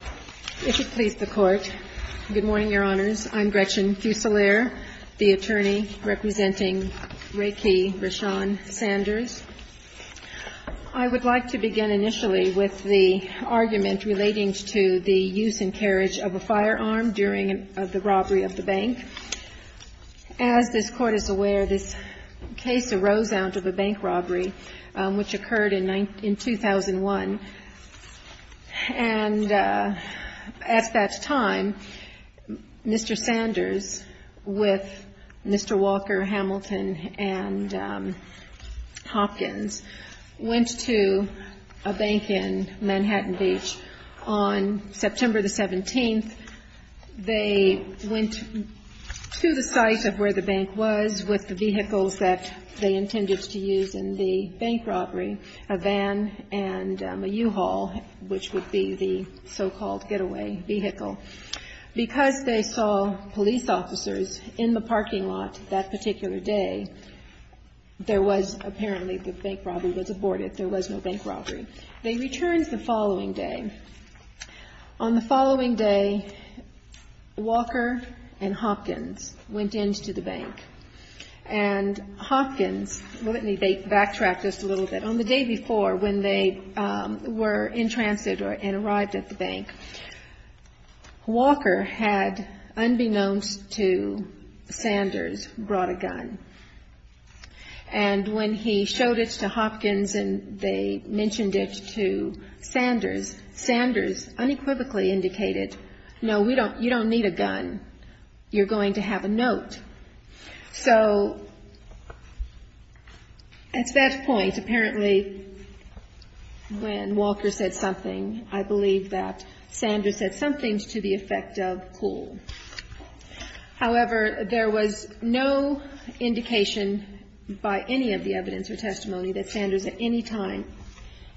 If it please the Court, good morning, Your Honors. I'm Gretchen Fusilier, the attorney representing Ray Kee, Rashawn Sanders. I would like to begin initially with the argument relating to the use and carriage of a firearm during the robbery of the bank. As this Court is aware, this case arose out of a bank robbery which occurred in 2001. And at that time, Mr. Sanders, with Mr. Walker, Hamilton and Hopkins, went to a bank in Manhattan Beach. On September 17, they went to the site of where the bank was with the vehicles that they intended to use in the bank robbery, a van and a U-Haul, which would be the so-called getaway vehicle. Because they saw police officers in the parking lot that particular day, there was apparently the bank robbery was aborted. There was no bank robbery. They returned the following day. On the following day, Walker and Hopkins went into the bank. And Hopkins, let me backtrack just a little bit. On the day before, when they were in transit and arrived at the bank, Walker had, unbeknownst to Sanders, brought a gun. And when he showed it to Hopkins and they mentioned it to Sanders, Sanders unequivocally indicated, no, we don't, you don't need a gun. You're going to have a note. So at that point, apparently, when Walker said something, I believe that Sanders said something to the evidence or testimony that Sanders at any time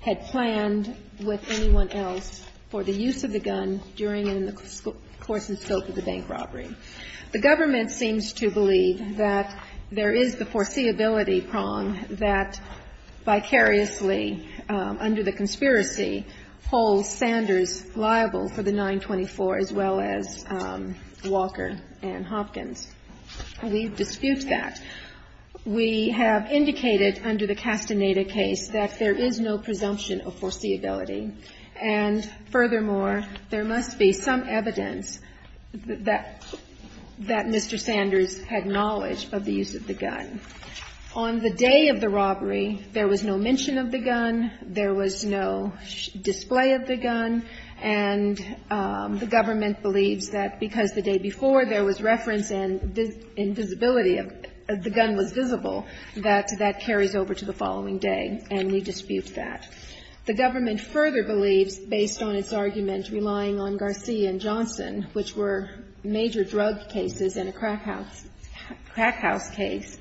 had planned with anyone else for the use of the gun during and in the course and scope of the bank robbery. The government seems to believe that there is the foreseeability prong that vicariously, under the conspiracy, holds Sanders liable for the 924 as well as Walker and Hopkins. We dispute that. We have indicated under the Castaneda case that there is no presumption of foreseeability. And furthermore, there must be some evidence that Mr. Sanders had knowledge of the use of the gun. On the day of the robbery, there was no mention of the gun. There was no display of the gun. And the government believes that because the day before there was reference and visibility of the gun was visible, that that carries over to the following day, and we dispute that. The government further believes, based on its argument relying on Garcia and Johnson, which were major drug cases in a crack house case,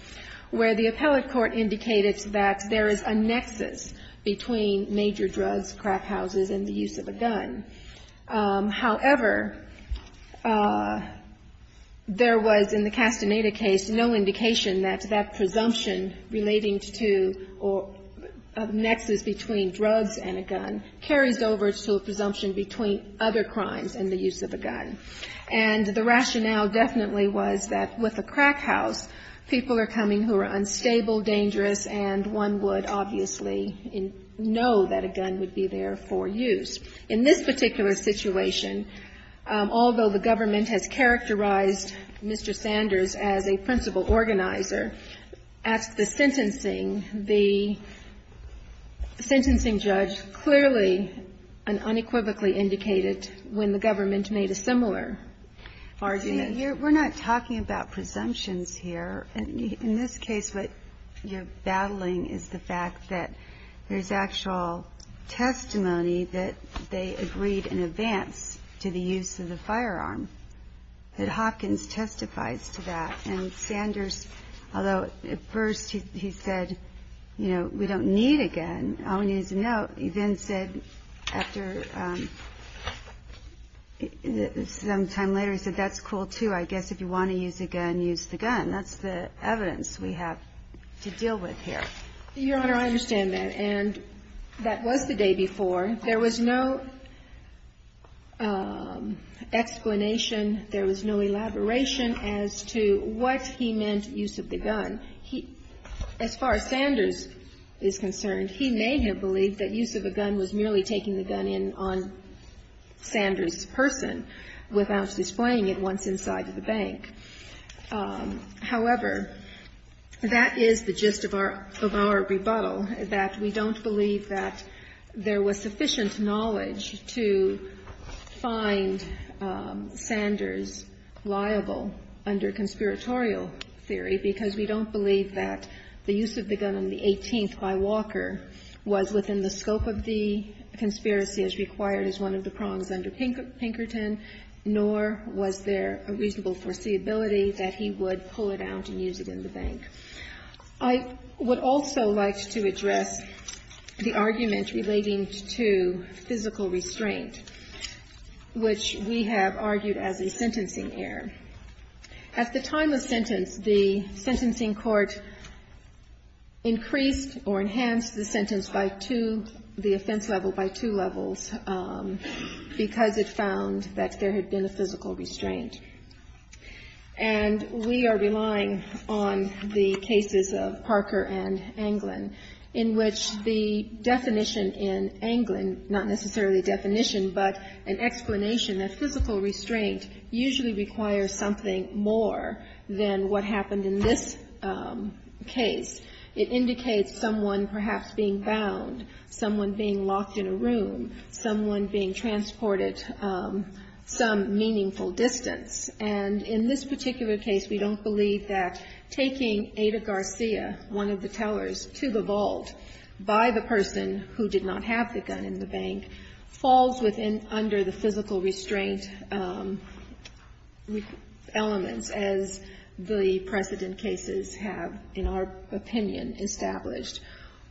where the appellate court indicated that there is a nexus between major drugs, crack houses, and the use of a gun. However, there was, in the Castaneda case, no indication that that presumption relating to a nexus between drugs and a gun carries over to a presumption between other crimes and the use of a gun. And the rationale definitely was that with a crack house, people are coming who are unstable, dangerous, and one would obviously know that a gun would be there for use. In this particular situation, although the government has characterized Mr. Sanders as a principal organizer, at the sentencing, the sentencing judge clearly and unequivocally indicated when the government made a similar argument. We're not talking about presumptions here. In this case, what you're battling is the fact that there's actual testimony that they agreed in advance to the use of the firearm, that Hopkins testifies to that. And Sanders, although at first he said, you know, we don't need a gun, all we need is a note, he then said after, sometime later, he said, that's cool too. I guess if you want to use a gun, use the gun. That's the evidence we have to deal with here. Your Honor, I understand that. And that was the day before. There was no explanation, there was no elaboration as to what he meant, use of the gun. He, as far as Sanders is concerned, he may have believed that use of a gun was merely taking the gun in on Sanders' person without displaying it once inside the bank. However, that is the gist of our rebuttal, that we don't believe that there was sufficient knowledge to find Sanders liable under conspiratorial theory, because we don't believe that the use of the gun on the 18th by Walker was within the scope of the conspiracy as required as one of the charges of Pinkerton, nor was there a reasonable foreseeability that he would pull it out and use it in the bank. I would also like to address the argument relating to physical restraint, which we have argued as a sentencing error. At the time of sentence, the sentencing court increased or enhanced the sentence by two, the offense level by two levels, because it found that there had been a physical restraint. And we are relying on the cases of Parker and Anglin, in which the definition in Anglin, not necessarily definition, but an explanation that physical restraint usually requires something more than what happened in this case. It indicates someone perhaps being bound, someone being locked in a room, someone being transported some meaningful distance. And in this particular case, we don't believe that taking Ada Garcia, one of the tellers, to the vault by the person who did not have the gun in the bank, falls under the physical restraint elements as the precedent cases have, in our opinion, established.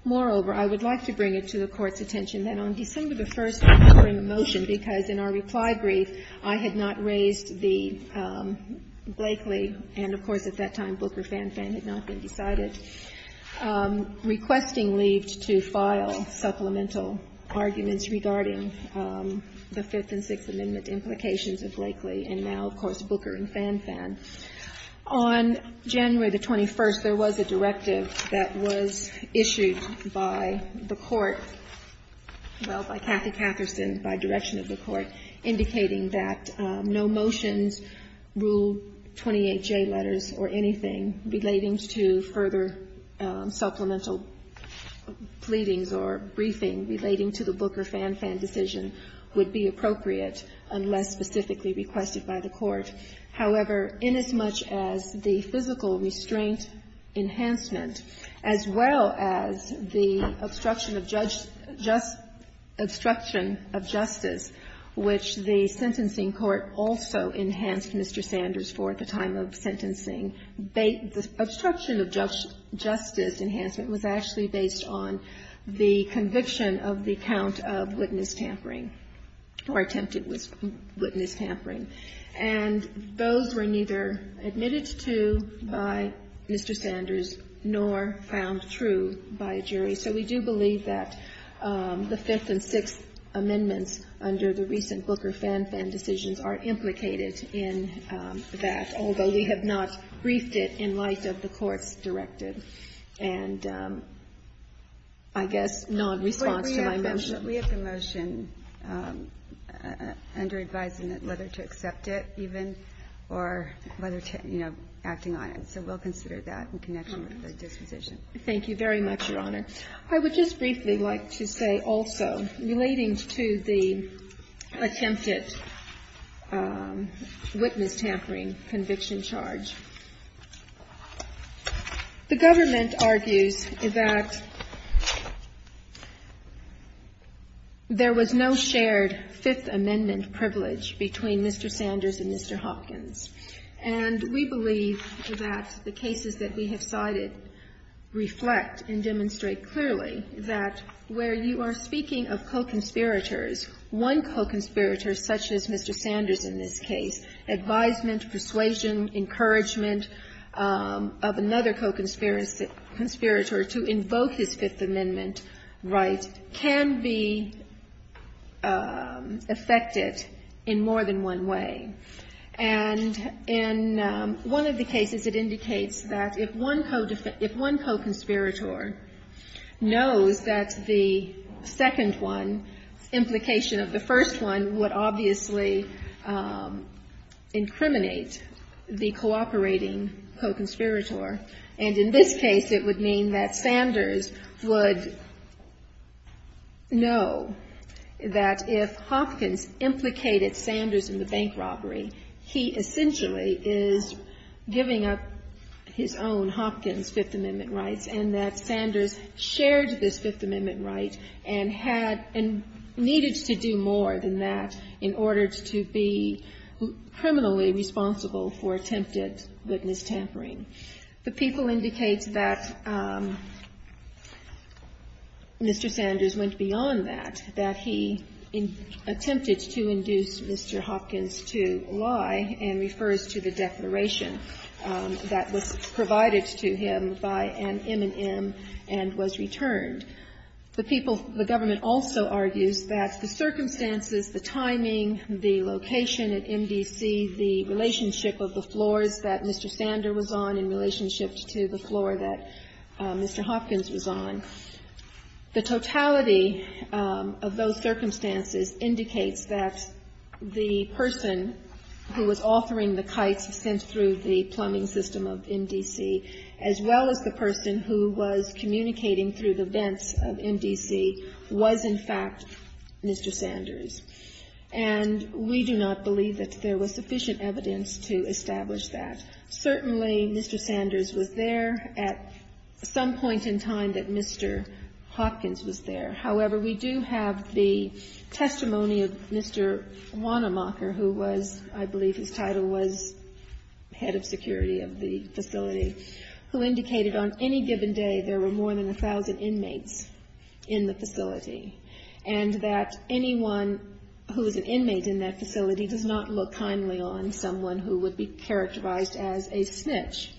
Moreover, I would like to bring it to the Court's attention that on December the 1st, we bring a motion, because in our reply brief, I had not raised the Blakely and, of course, at that time, Booker and Fanfan had not been decided, requesting leave to file supplemental arguments regarding the Fifth and Sixth Amendment implications of Blakely and now, of course, Booker and Fanfan. On January the 21st, there was a directive that was issued by the Court, well, by Kathy Catherson, by direction of the Court, indicating that no motions, Rule 28J letters or anything relating to further supplemental pleadings or briefing relating to the Booker-Fanfan decision would be appropriate unless specifically requested by the Court. However, inasmuch as the physical restraint enhancement, as well as the obstruction of justice, which the sentencing court also enhanced, Mr. Sanders, for at the time of sentencing, the obstruction of justice enhancement was actually based on the conviction of the count of witness tampering or attempted witness tampering. And those were not neither admitted to by Mr. Sanders nor found true by a jury. So we do believe that the Fifth and Sixth Amendments under the recent Booker-Fanfan decisions are implicated in that, although we have not briefed it in light of the Court's directive and, I guess, nonresponse to my mention. But we have the motion under advising that whether to accept it even or whether to, you know, acting on it. So we'll consider that in connection with the disposition. Thank you very much, Your Honor. I would just briefly like to say also, relating to the attempted witness tampering conviction charge, the government argues that, you know, there is no evidence that there was no shared Fifth Amendment privilege between Mr. Sanders and Mr. Hopkins. And we believe that the cases that we have cited reflect and demonstrate clearly that where you are speaking of co-conspirators, one co-conspirator such as Mr. Sanders in this case, advisement, persuasion, encouragement of another co-conspirator to invoke his Fifth Amendment right can be affected in more than one way. And in one of the cases, it indicates that if one co-conspirator knows that the second one, implication of the first one, would obviously incriminate the cooperating co-conspirator. And in this case, it would mean that Sanders would know that if Hopkins implicated Sanders in the bank robbery, he essentially is giving up his own Hopkins Fifth Amendment rights and that Sanders shared this Fifth Amendment right and had and needed to do more than that in order to be criminally responsible for attempted witness tampering. The people indicate that Mr. Sanders went beyond that, that he attempted to induce Mr. Hopkins to lie and refers to the declaration that was provided to him by an M&M and was returned. The people, the government also argues that the circumstances, the timing, the location at MDC, the relationship of the floors that Mr. Sanders was on in relationship to the floor that Mr. Hopkins was on, the totality of those circumstances indicates that the person who was authoring the kites sent through the plumbing system of MDC, as well as the person who was communicating through the vents of MDC, was in fact Mr. Sanders. And we do not believe that there was sufficient evidence to establish that. Certainly, Mr. Sanders was there at some point in time that Mr. Hopkins was there. However, we do have the testimony of Mr. Wanamaker, who was, I believe his title was head of security of the facility, who indicated on any given day there were more than a thousand inmates in the facility, and that anyone who is an inmate in that facility does not look kindly on someone who would be characterized as a snitch.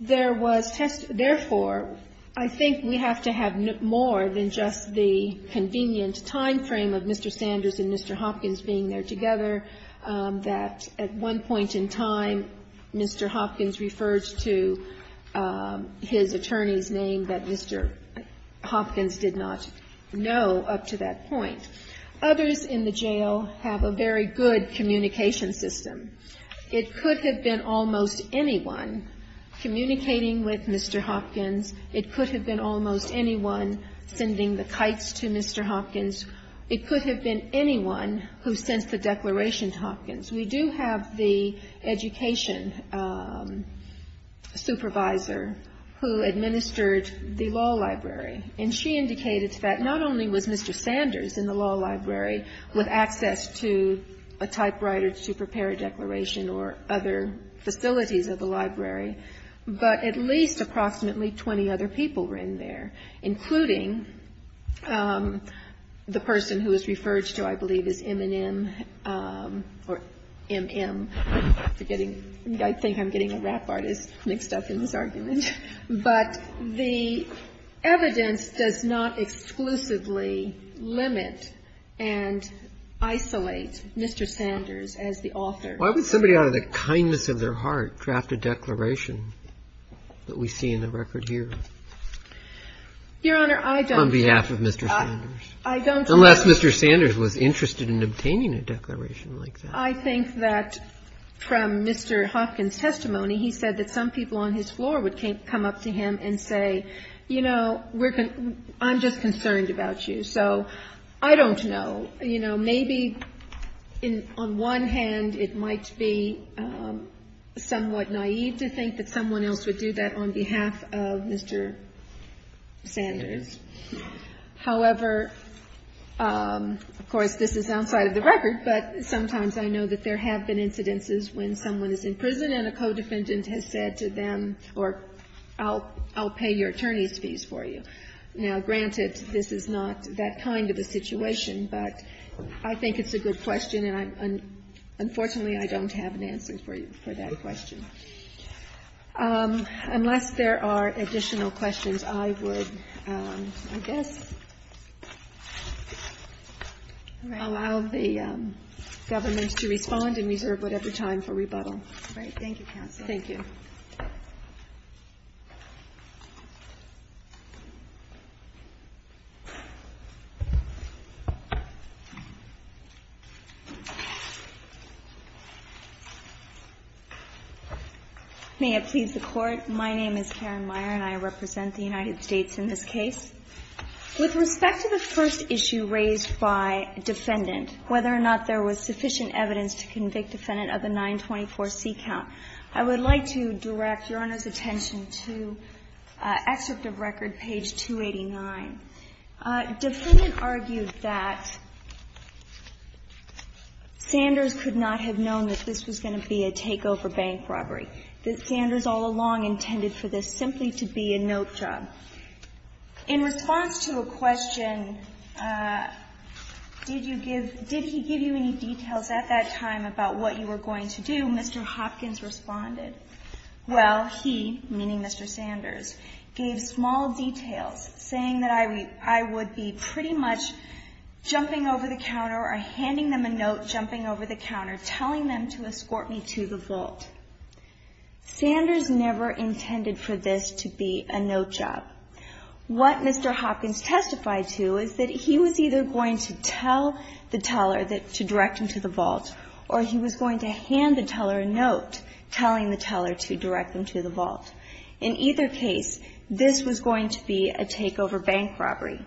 There was, therefore, I think we have to have more than just the convenient time frame of Mr. Sanders and Mr. Hopkins being there together, that at one point in time Mr. Hopkins was referred to his attorney's name that Mr. Hopkins did not know up to that point. Others in the jail have a very good communication system. It could have been almost anyone communicating with Mr. Hopkins. It could have been almost anyone sending the kites to Mr. Hopkins. It could have been anyone who sent the declaration to Hopkins. We do have the education supervisor who administered the law library, and she indicated that not only was Mr. Sanders in the law library with access to a typewriter to prepare a declaration or other facilities of the library, but at least approximately 20 other people were in there, including the person who was referred to, I believe, as M&M or M.M. I'm forgetting. I think I'm getting a rap artist mixed up in this argument. But the evidence does not exclusively limit and isolate Mr. Sanders as the author. Why would somebody out of the kindness of their heart draft a declaration that we see in the record here? Your Honor, I don't think that's the case. On behalf of Mr. Sanders. Unless Mr. Sanders was interested in obtaining a declaration like that. I think that from Mr. Hopkins' testimony, he said that some people on his floor would come up to him and say, you know, I'm just concerned about you. So I don't know. You know, maybe on one hand it might be somewhat naive to think that someone else would do that on behalf of Mr. Sanders. However, of course, this is outside of the record, but sometimes I know that there have been incidences when someone is in prison and a co-defendant has said to them, or I'll pay your attorney's fees for you. Now, granted, this is not that kind of a situation, but I think it's a good question, and unfortunately, I don't have an answer for you for that question. Unless there are additional questions, I would, I guess, allow the government to respond and reserve whatever time for rebuttal. Thank you. May it please the Court. My name is Karen Meyer, and I represent the United States in this case. With respect to the first issue raised by defendant, whether or not there was sufficient evidence to convict defendant of the 924C count, I would like to direct Your Honor's attention to Excerpt of Record, page 289. Defendant argued that Sanders could not have known that this was going to be a takeover bank robbery. That Sanders all along intended for this simply to be a note job. In response to a question, did you give, did he give you any details at that time about what you were going to do? Mr. Hopkins responded. Well, he, meaning Mr. Sanders, gave small details, saying that I would be pretty much jumping over the counter or handing them a note jumping over the counter, telling them to escort me to the vault. Sanders never intended for this to be a note job. What Mr. Hopkins testified to is that he was either going to tell the teller that, to direct him to the vault, or he was going to hand the teller a note telling the teller to direct him to the vault. In either case, this was going to be a takeover bank robbery.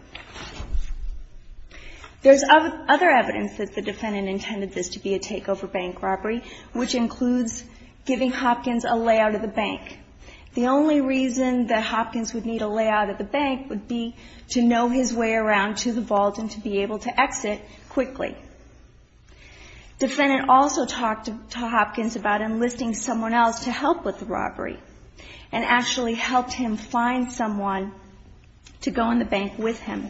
There's other evidence that the defendant intended this to be a takeover bank robbery, which includes giving Hopkins a layout of the bank. The only reason that Hopkins would need a layout of the bank would be to know his way around to the vault and to be able to exit quickly. Defendant also talked to Hopkins about enlisting someone else to help with the robbery, and actually helped him find someone to go in the bank with him.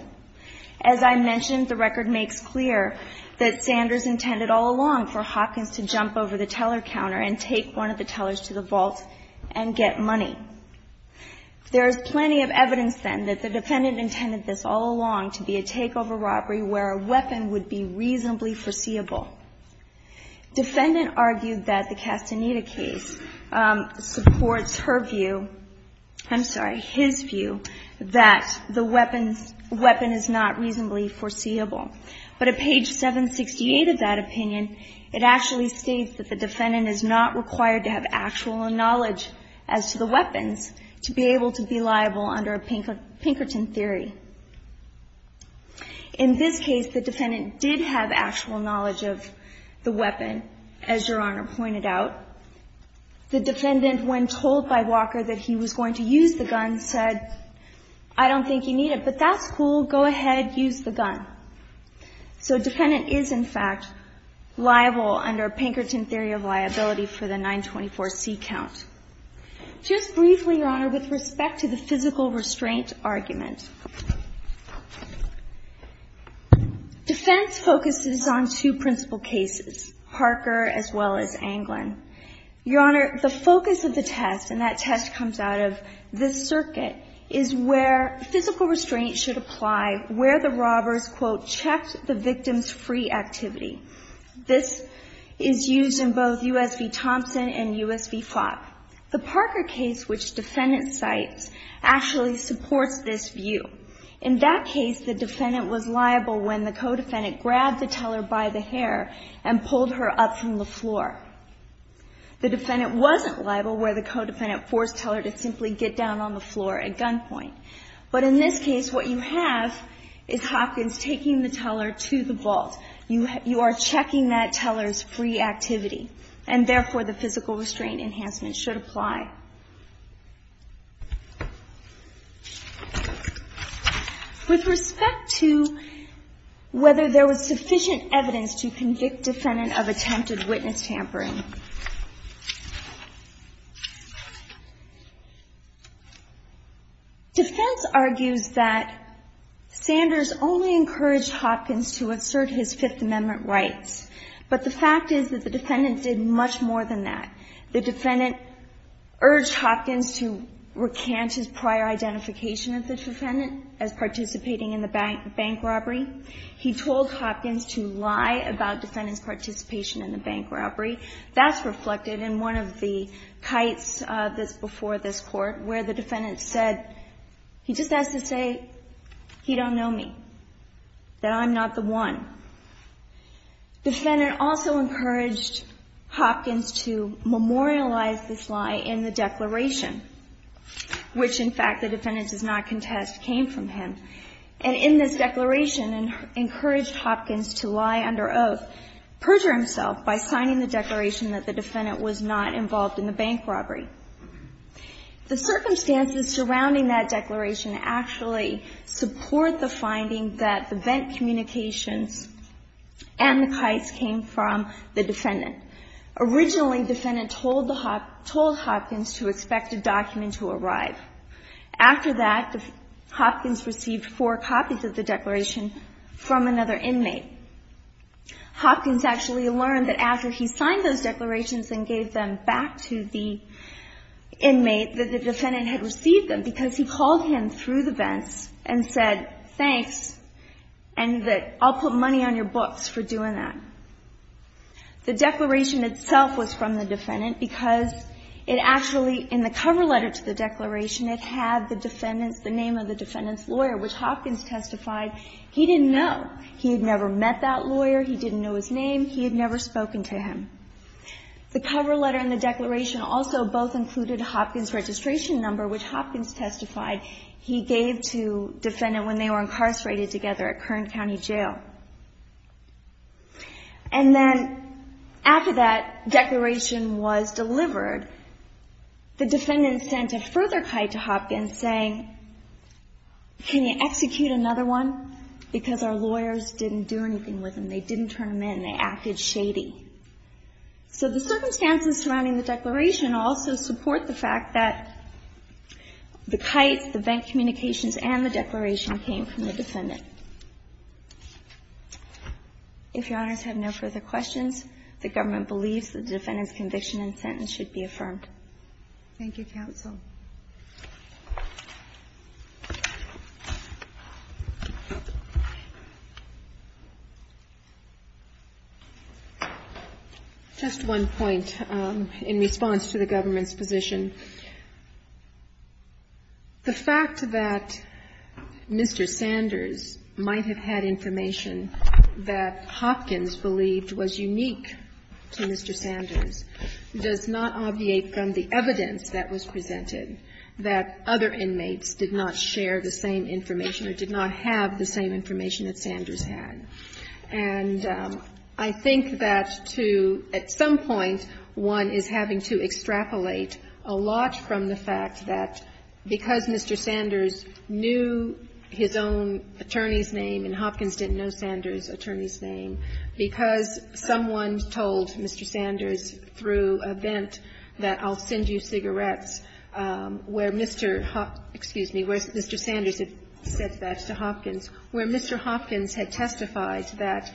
As I mentioned, the record makes clear that Sanders intended all along for Hopkins to jump over the teller counter and take one of the tellers to the vault and get money. There's plenty of evidence then that the defendant intended this all along to be a takeover robbery where a weapon would be reasonably foreseeable. Defendant argued that the Castaneda case supports her view, I'm sorry, his view, that the weapon is not reasonably foreseeable. But at page 768 of that opinion, it actually states that the defendant is not required to have actual knowledge as to the weapons to be able to be liable under a Pinkerton theory. In this case, the defendant did have actual knowledge of the weapon, as Your Honor pointed out. The defendant, when told by Walker that he was going to use the gun, said, I don't think you need it, but that's cool, go ahead, use the gun. So defendant is, in fact, liable under Pinkerton theory of liability for the 924C count. Just briefly, Your Honor, with respect to the physical restraint argument. Defense focuses on two principal cases, Parker as well as Anglin. Your Honor, the focus of the test, and that test comes out of this circuit, is where physical restraint should apply where the robbers, quote, checked the victim's free activity. This is used in both U.S. v. Thompson and U.S. v. Flop. The Parker case, which defendant cites, actually supports this view. In that case, the defendant was liable when the co-defendant grabbed the teller by the hair and pulled her up from the floor. The defendant wasn't liable where the co-defendant forced teller to simply get down on the floor at gunpoint. But in this case, what you have is Hopkins taking the teller to the vault. You are checking that teller's free activity. And therefore, the physical restraint enhancement should apply. With respect to whether there was sufficient evidence to convict defendant of attempted witness tampering, defense argues that Sanders only encouraged Hopkins to assert his Fifth Amendment rights. But the fact is that the defendant did much more than that. The defendant urged Hopkins to recant his prior identification of the defendant as participating in the bank robbery. He told Hopkins to lie about defendant's participation in the bank robbery. That's reflected in one of the kites that's before this Court where the defendant said, he just has to say he don't know me, that I'm not the one. Defendant also encouraged Hopkins to memorialize this lie in the declaration, which, in fact, the defendant does not contest came from him. And in this declaration, encouraged Hopkins to lie under oath, perjure himself by signing the declaration that the defendant was not involved in the bank robbery. The circumstances surrounding that declaration actually support the finding that the vent communications and the kites came from the defendant. Originally, defendant told Hopkins to expect a document to arrive. After that, Hopkins received four copies of the declaration from another inmate. Hopkins actually learned that after he signed those declarations and gave them back to the inmate, that the defendant had received them because he called him through the vents and said, thanks, and that I'll put money on your books for doing that. The declaration itself was from the defendant because it actually, in the cover letter to the declaration, it had the defendant's, the name of the defendant's lawyer, which Hopkins testified he didn't know. He had never met that lawyer. He didn't know his name. He had never spoken to him. The cover letter and the declaration also both included Hopkins' registration number, which Hopkins testified he gave to defendant when they were incarcerated together at Kern County Jail. And then after that declaration was delivered, the defendant sent a further kite to Hopkins saying, can you execute another one, because our lawyers didn't do anything with them. They didn't turn them in. They acted shady. So the circumstances surrounding the declaration also support the fact that the kites, the vent communications, and the declaration came from the defendant. If Your Honors have no further questions, the government believes that the defendant's conviction and sentence should be affirmed. Thank you, counsel. Just one point in response to the government's position. The fact that Mr. Sanders might have had information that Hopkins believed was unique to Mr. Sanders does not obviate from the evidence that was presented that other inmates did not share the same information or did not have the same information that Sanders had. And I think that to, at some point, one is having to extrapolate a lot from the fact that because Mr. Sanders knew his own attorney's name and Hopkins didn't know Sanders's attorney's name, because someone told Mr. Sanders through a vent that I'll send you cigarettes, where Mr. Hopkins, excuse me, where Mr. Sanders had said that to Hopkins, where Mr. Hopkins had testified that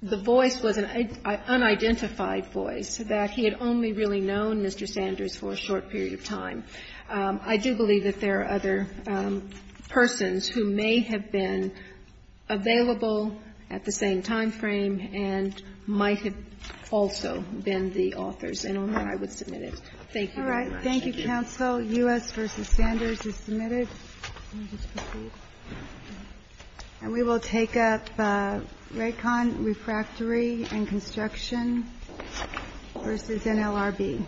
the voice was an unidentified voice, that he had only really known Mr. Sanders for a short period of time. I do believe that there are other persons who may have been available at the same time frame and might have also been the authors, and on that I would submit it. Thank you very much. Thank you. All right. Thank you, counsel. U.S. v. Sanders is submitted. And we will take up Raycon Refractory and Construction v. NLRB.